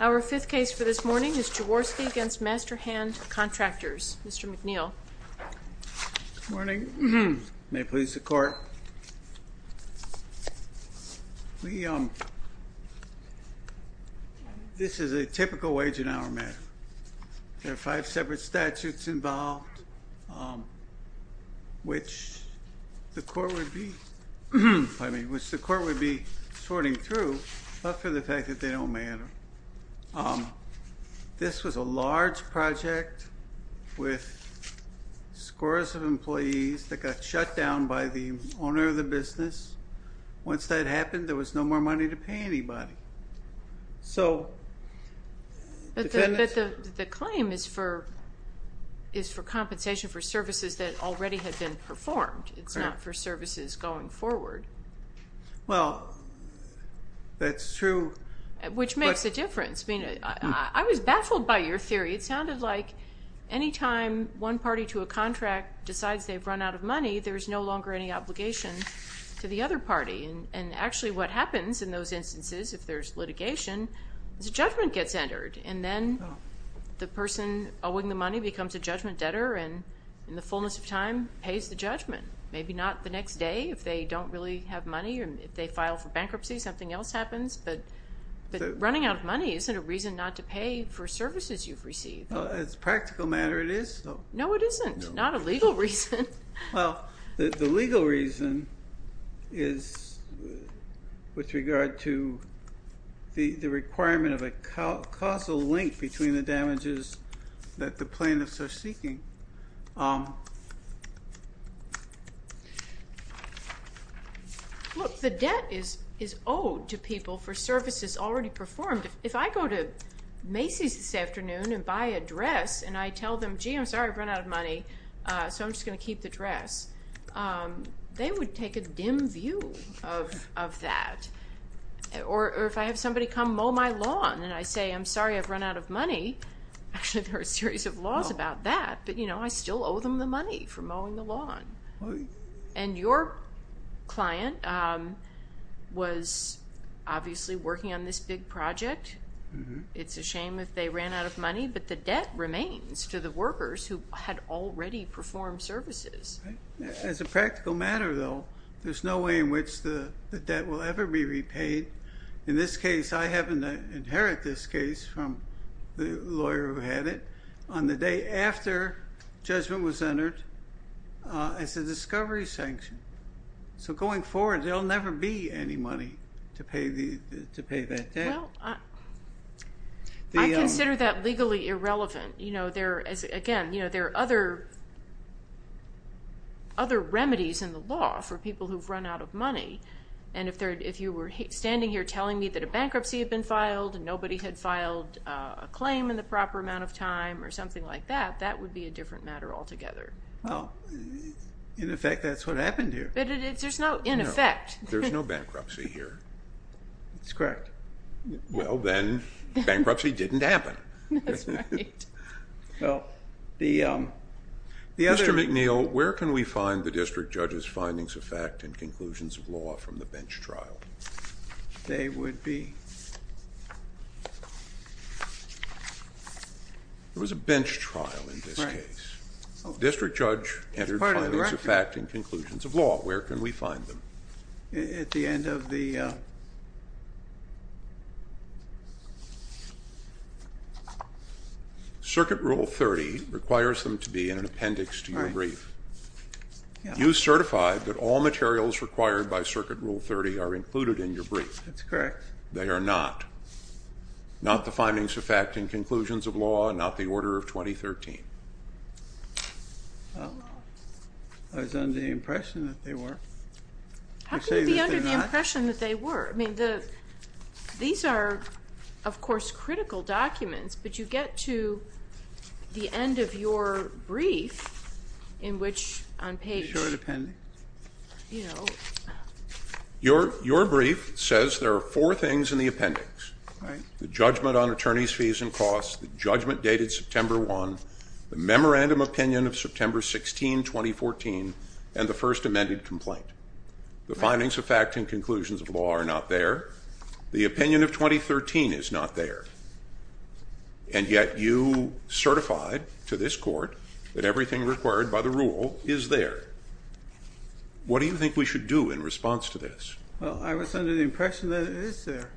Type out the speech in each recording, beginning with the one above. Our fifth case for this morning is Jaworski v. Master Hand Contractors. Mr. McNeil. Good morning. May it please the Court. This is a typical wage and hour matter. There are five separate statutes involved, which the Court would be sorting through, but for the fact that they don't matter. This was a large project with scores of employees that got shut down by the owner of the business. Once that happened, there was no more money to pay anybody. But the claim is for compensation for services that already had been performed. It's not for services going forward. Well, that's true. Which makes a difference. I mean, I was baffled by your theory. It sounded like any time one party to a contract decides they've run out of money, there's no longer any obligation to the other party. And actually, what happens in those instances, if there's litigation, is a judgment gets entered, and then the person owing the money becomes a judgment debtor, and in the fullness of time, pays the judgment. Maybe not the next day, if they don't really have money, or if they file for bankruptcy, something else happens, but running out of money isn't a reason not to pay for services you've received. As a practical matter, it is, though. No, it isn't. Not a legal reason. Well, the legal reason is with regard to the requirement of a causal link between the damages that the plaintiffs are seeking. Look, the debt is owed to people for services already performed. If I go to Macy's this afternoon and buy a dress, and I tell them, gee, I'm sorry, I've run out of money, so I'm just going to keep the dress, they would take a dim view of that. Or if I have somebody come mow my lawn, and I say, I'm sorry, I've run out of money, actually, there are a series of laws about that, but I still owe them the money for mowing the lawn. And your client was obviously working on this big project. It's a shame if they ran out of money, but the debt remains to the workers who had already performed services. As a practical matter, though, there's no way in which the debt will ever be repaid. In this case, I happen to inherit this case from the lawyer who had it on the day after judgment was entered as a discovery sanction. So going forward, there will never be any money to pay that debt. I consider that legally irrelevant. Again, there are other remedies in the law for people who've run out of money. And if you were standing here telling me that a bankruptcy had been filed and nobody had filed a claim in the proper amount of time or something like that, that would be a different matter altogether. In effect, that's what happened here. But there's no in effect. There's no bankruptcy here. That's correct. Well, then bankruptcy didn't happen. That's right. Mr. McNeil, where can we find the district judge's findings of fact and conclusions of law from the bench trial? There was a bench trial in this case. District judge entered findings of fact and conclusions of law. Where can we find them? At the end of the... Circuit Rule 30 requires them to be in an appendix to your brief. You certify that all materials required by Circuit Rule 30 are included in your brief. That's correct. They are not. Not the findings of fact and conclusions of law, not the order of 2013. I was under the impression that they were. How can you be under the impression that they were? I mean, these are, of course, critical documents, but you get to the end of your brief in which on page... The short appendix. Your brief says there are four things in the appendix. Right. The judgment on attorneys' fees and costs, the judgment dated September 1, the memorandum opinion of September 16, 2014, and the first amended complaint. The findings of fact and conclusions of law are not there. The opinion of 2013 is not there. And yet you certified to this court that everything required by the rule is there. What do you think we should do in response to this? Well, I was under the impression that it is there.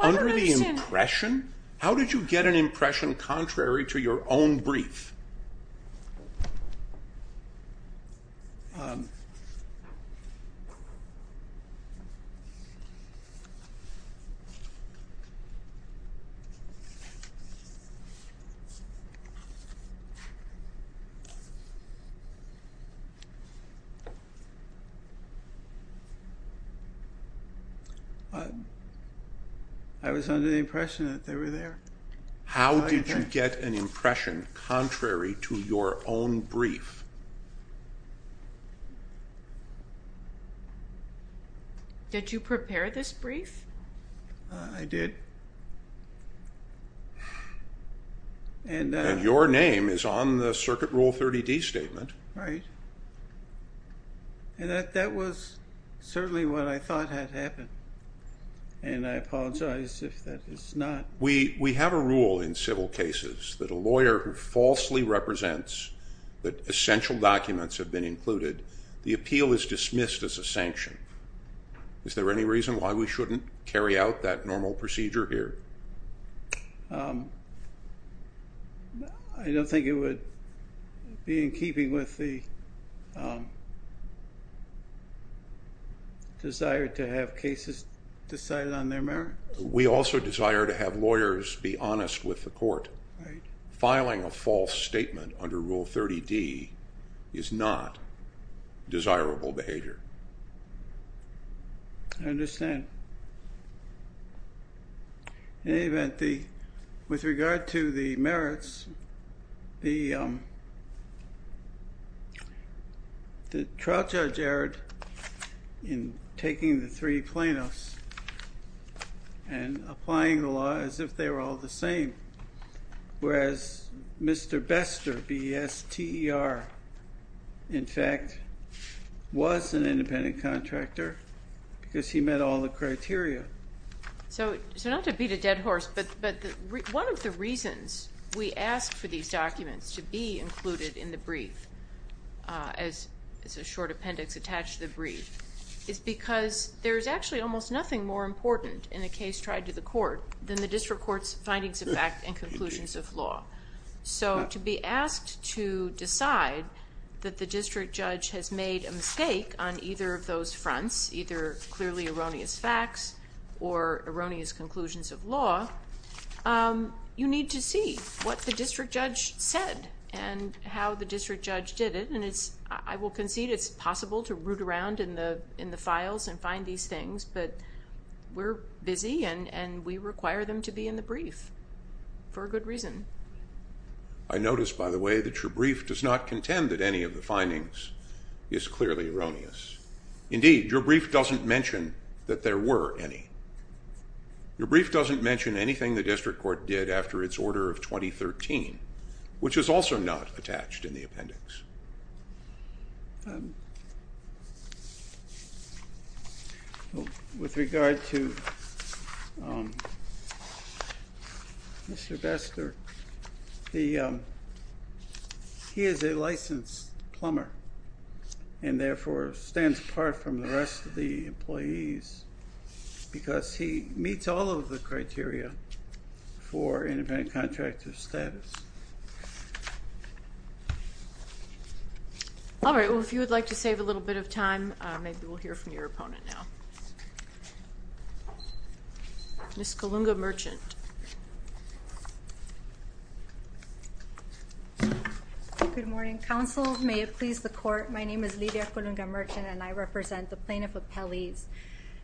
Under the impression? How did you get an impression contrary to your own brief? I was under the impression that they were there. How did you get an impression contrary to your own brief? Did you prepare this brief? I did. And your name is on the Circuit Rule 30D statement. Right. And that was certainly what I thought had happened. And I apologize if that is not... We have a rule in civil cases that a lawyer who falsely represents that essential documents have been included, the appeal is dismissed as a sanction. Is there any reason why we shouldn't carry out that normal procedure here? I don't think it would be in keeping with the desire to have cases decided on their merits. We also desire to have lawyers be honest with the court. Right. Filing a false statement under Rule 30D is not desirable behavior. I understand. In any event, with regard to the merits, the trial judge erred in taking the three plaintiffs and applying the law as if they were all the same, whereas Mr. Bester, B-E-S-T-E-R, in fact, was an independent contractor because he met all the criteria. So not to beat a dead horse, but one of the reasons we ask for these documents to be included in the brief, as a short appendix attached to the brief, is because there is actually almost nothing more important in a case tried to the court than the district court's findings of fact and conclusions of law. So to be asked to decide that the district judge has made a mistake on either of those fronts, either clearly erroneous facts or erroneous conclusions of law, you need to see what the district judge said and how the district judge did it. I will concede it's possible to root around in the files and find these things, but we're busy and we require them to be in the brief for a good reason. I notice, by the way, that your brief does not contend that any of the findings is clearly erroneous. Indeed, your brief doesn't mention that there were any. Your brief doesn't mention anything the district court did after its order of 2013, which is also not attached in the appendix. With regard to Mr. Vester, he is a licensed plumber and therefore stands apart from the rest of the employees because he meets all of the criteria for independent contractor status. All right, well, if you would like to save a little bit of time, maybe we'll hear from your opponent now. Ms. Colunga-Merchant. Good morning, counsel. May it please the court, my name is Lydia Colunga-Merchant and I represent the plaintiff appellees.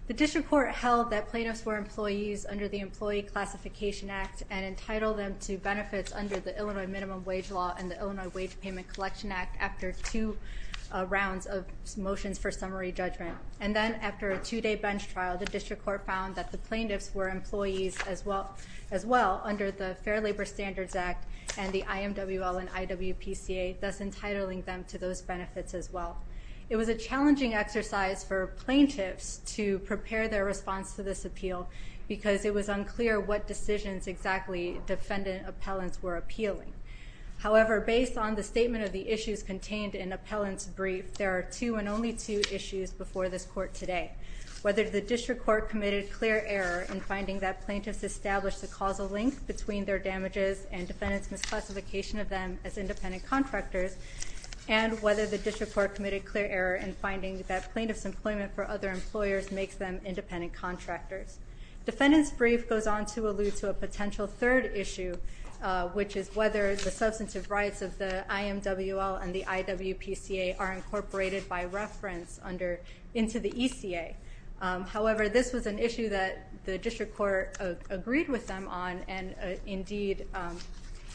The district court held that plaintiffs were employees under the Employee Classification Act and entitled them to benefits under the Illinois Minimum Wage Law and the Illinois Wage Payment Collection Act after two rounds of motions for summary judgment. And then after a two-day bench trial, the district court found that the plaintiffs were employees as well under the Fair Labor Standards Act and the IMWL and IWPCA, thus entitling them to those benefits as well. It was a challenging exercise for plaintiffs to prepare their response to this appeal because it was unclear what decisions exactly defendant appellants were appealing. However, based on the statement of the issues contained in appellant's brief, there are two and only two issues before this court today. Whether the district court committed clear error in finding that plaintiffs established a causal link between their damages and defendant's misclassification of them as independent contractors, and whether the district court committed clear error in finding that plaintiff's employment for other employers makes them independent contractors. Defendant's brief goes on to allude to a potential third issue, which is whether the substantive rights of the IMWL and the IWPCA are incorporated by reference into the ECA. However, this was an issue that the district court agreed with them on and indeed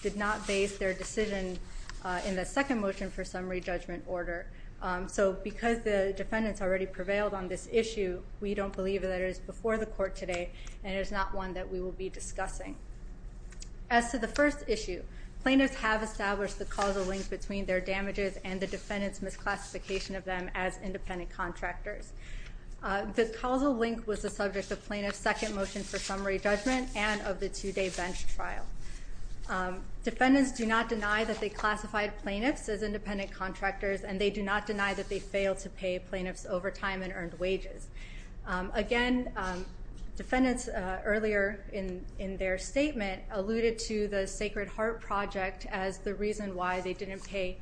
did not base their decision in the second motion for summary judgment order. So because the defendants already prevailed on this issue, we don't believe that it is before the court today and it is not one that we will be discussing. As to the first issue, plaintiffs have established the causal link between their damages and the defendant's misclassification of them as independent contractors. The causal link was the subject of plaintiff's second motion for summary judgment and of the two-day bench trial. Defendants do not deny that they classified plaintiffs as independent contractors and they do not deny that they failed to pay plaintiffs overtime and earned wages. Again, defendants earlier in their statement alluded to the Sacred Heart Project as the reason why they didn't pay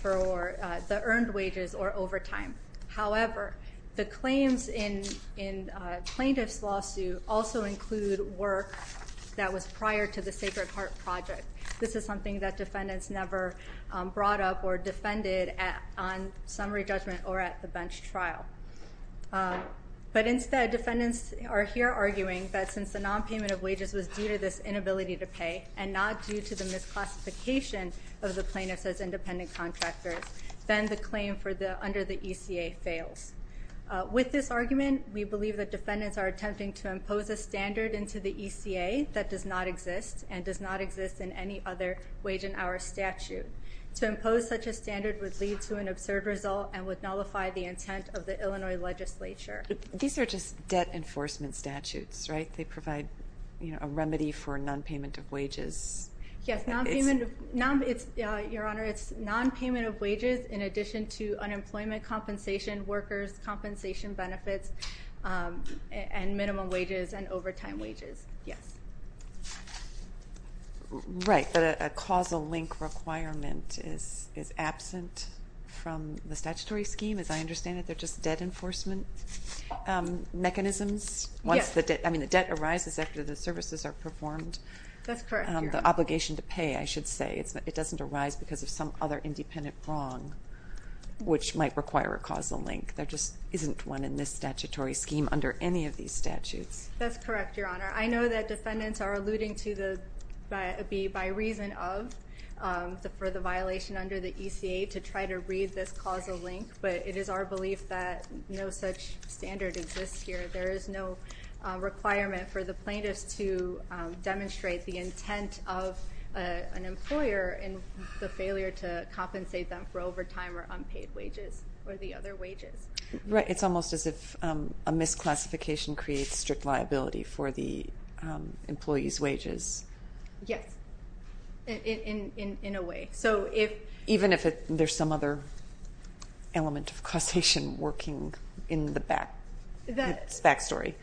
for the earned wages or overtime. However, the claims in plaintiff's lawsuit also include work that was prior to the Sacred Heart Project. This is something that defendants never brought up or defended on summary judgment or at the bench trial. But instead, defendants are here arguing that since the nonpayment of wages was due to this inability to pay and not due to the misclassification of the plaintiffs as independent contractors, then the claim under the ECA fails. With this argument, we believe that defendants are attempting to impose a standard into the ECA that does not exist and does not exist in any other wage and hour statute. To impose such a standard would lead to an absurd result and would nullify the intent of the Illinois legislature. These are just debt enforcement statutes, right? They provide a remedy for nonpayment of wages. Yes, Your Honor. It's nonpayment of wages in addition to unemployment compensation, workers' compensation benefits, and minimum wages and overtime wages. Yes. Right, but a causal link requirement is absent from the statutory scheme. As I understand it, they're just debt enforcement mechanisms. Yes. I mean, the debt arises after the services are performed. That's correct, Your Honor. The obligation to pay, I should say. It doesn't arise because of some other independent wrong, which might require a causal link. There just isn't one in this statutory scheme under any of these statutes. That's correct, Your Honor. I know that defendants are alluding to be by reason of for the violation under the ECA to try to read this causal link, but it is our belief that no such standard exists here. There is no requirement for the plaintiffs to demonstrate the intent of an employer in the failure to compensate them for overtime or unpaid wages or the other wages. Right. It's almost as if a misclassification creates strict liability for the employee's wages. Yes, in a way. Even if there's some other element of causation working in the back story.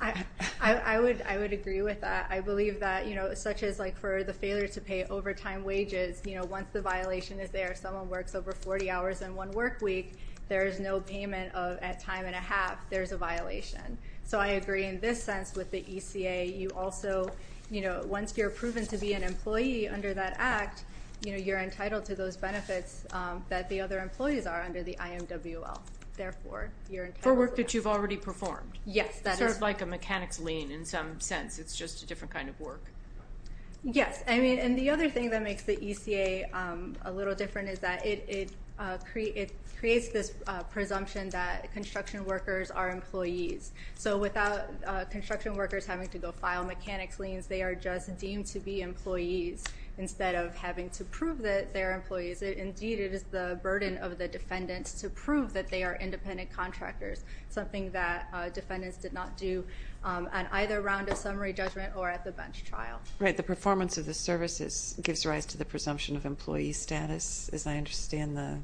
I would agree with that. I believe that, you know, such as like for the failure to pay overtime wages, you know, once the violation is there, someone works over 40 hours in one work week, there is no payment of at time and a half, there's a violation. So I agree in this sense with the ECA. You also, you know, once you're proven to be an employee under that act, you know, you're entitled to those benefits that the other employees are under the IMWL. Therefore, you're entitled. For work that you've already performed. Yes. Sort of like a mechanics lien in some sense. It's just a different kind of work. Yes. I mean, and the other thing that makes the ECA a little different is that it creates this presumption that construction workers are employees. So without construction workers having to go file mechanics liens, they are just deemed to be employees instead of having to prove that they're employees. Indeed, it is the burden of the defendants to prove that they are independent contractors, something that defendants did not do on either round of summary judgment or at the bench trial. Right. The performance of the services gives rise to the presumption of employee status, as I understand the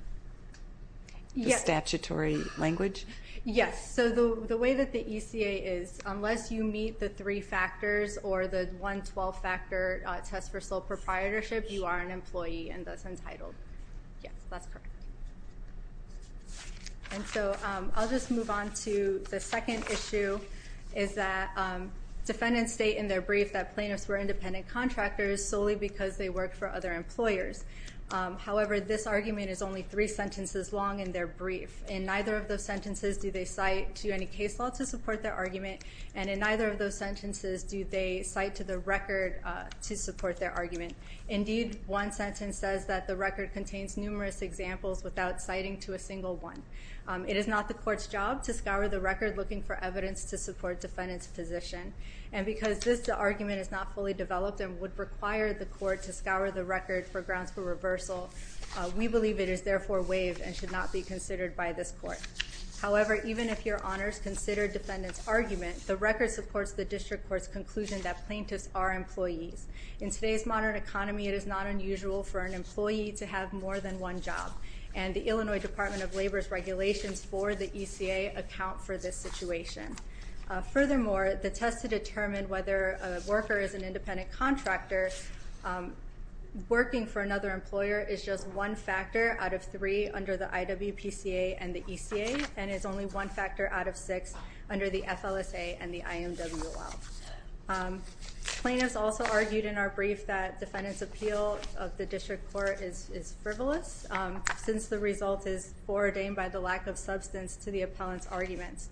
statutory language. Yes. So the way that the ECA is, unless you meet the three factors or the 112 factor test for sole proprietorship, you are an employee and thus entitled. Yes, that's correct. And so I'll just move on to the second issue is that defendants state in their brief that plaintiffs were independent contractors solely because they worked for other employers. However, this argument is only three sentences long in their brief. In neither of those sentences do they cite to any case law to support their argument. And in neither of those sentences do they cite to the record to support their argument. Indeed, one sentence says that the record contains numerous examples without citing to a single one. It is not the court's job to scour the record looking for evidence to support defendants' position. And because this argument is not fully developed and would require the court to scour the record for grounds for reversal, we believe it is therefore waived and should not be considered by this court. However, even if your honors consider defendants' argument, the record supports the district court's conclusion that plaintiffs are employees. In today's modern economy, it is not unusual for an employee to have more than one job. And the Illinois Department of Labor's regulations for the ECA account for this situation. Furthermore, the test to determine whether a worker is an independent contractor working for another employer is just one factor out of three under the IWPCA and the ECA, and is only one factor out of six under the FLSA and the IMWOL. Plaintiffs also argued in our brief that defendants' appeal of the district court is frivolous since the result is ordained by the lack of substance to the appellant's arguments.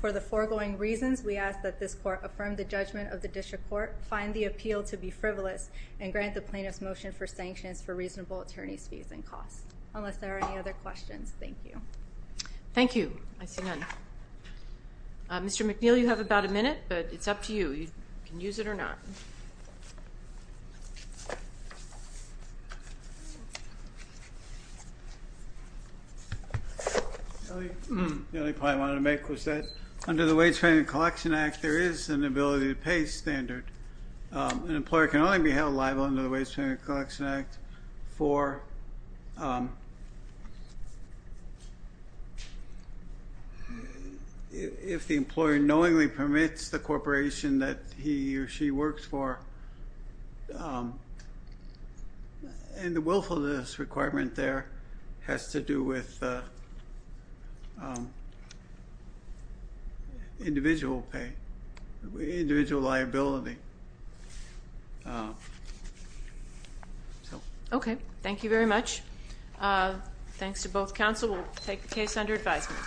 For the foregoing reasons, we ask that this court affirm the judgment of the district court, find the appeal to be frivolous, and grant the plaintiff's motion for sanctions for reasonable attorney's fees and costs. Unless there are any other questions, thank you. Thank you. I see none. Mr. McNeil, you have about a minute, but it's up to you. You can use it or not. The only point I wanted to make was that under the Wage Payment Collection Act, there is an ability to pay standard. An employer can only be held liable under the Wage Payment Collection Act if the employer knowingly permits the corporation that he or she works for. And the willfulness requirement there has to do with individual pay, individual liability. Okay. Thank you very much. Thanks to both counsel. We'll take the case under advisement.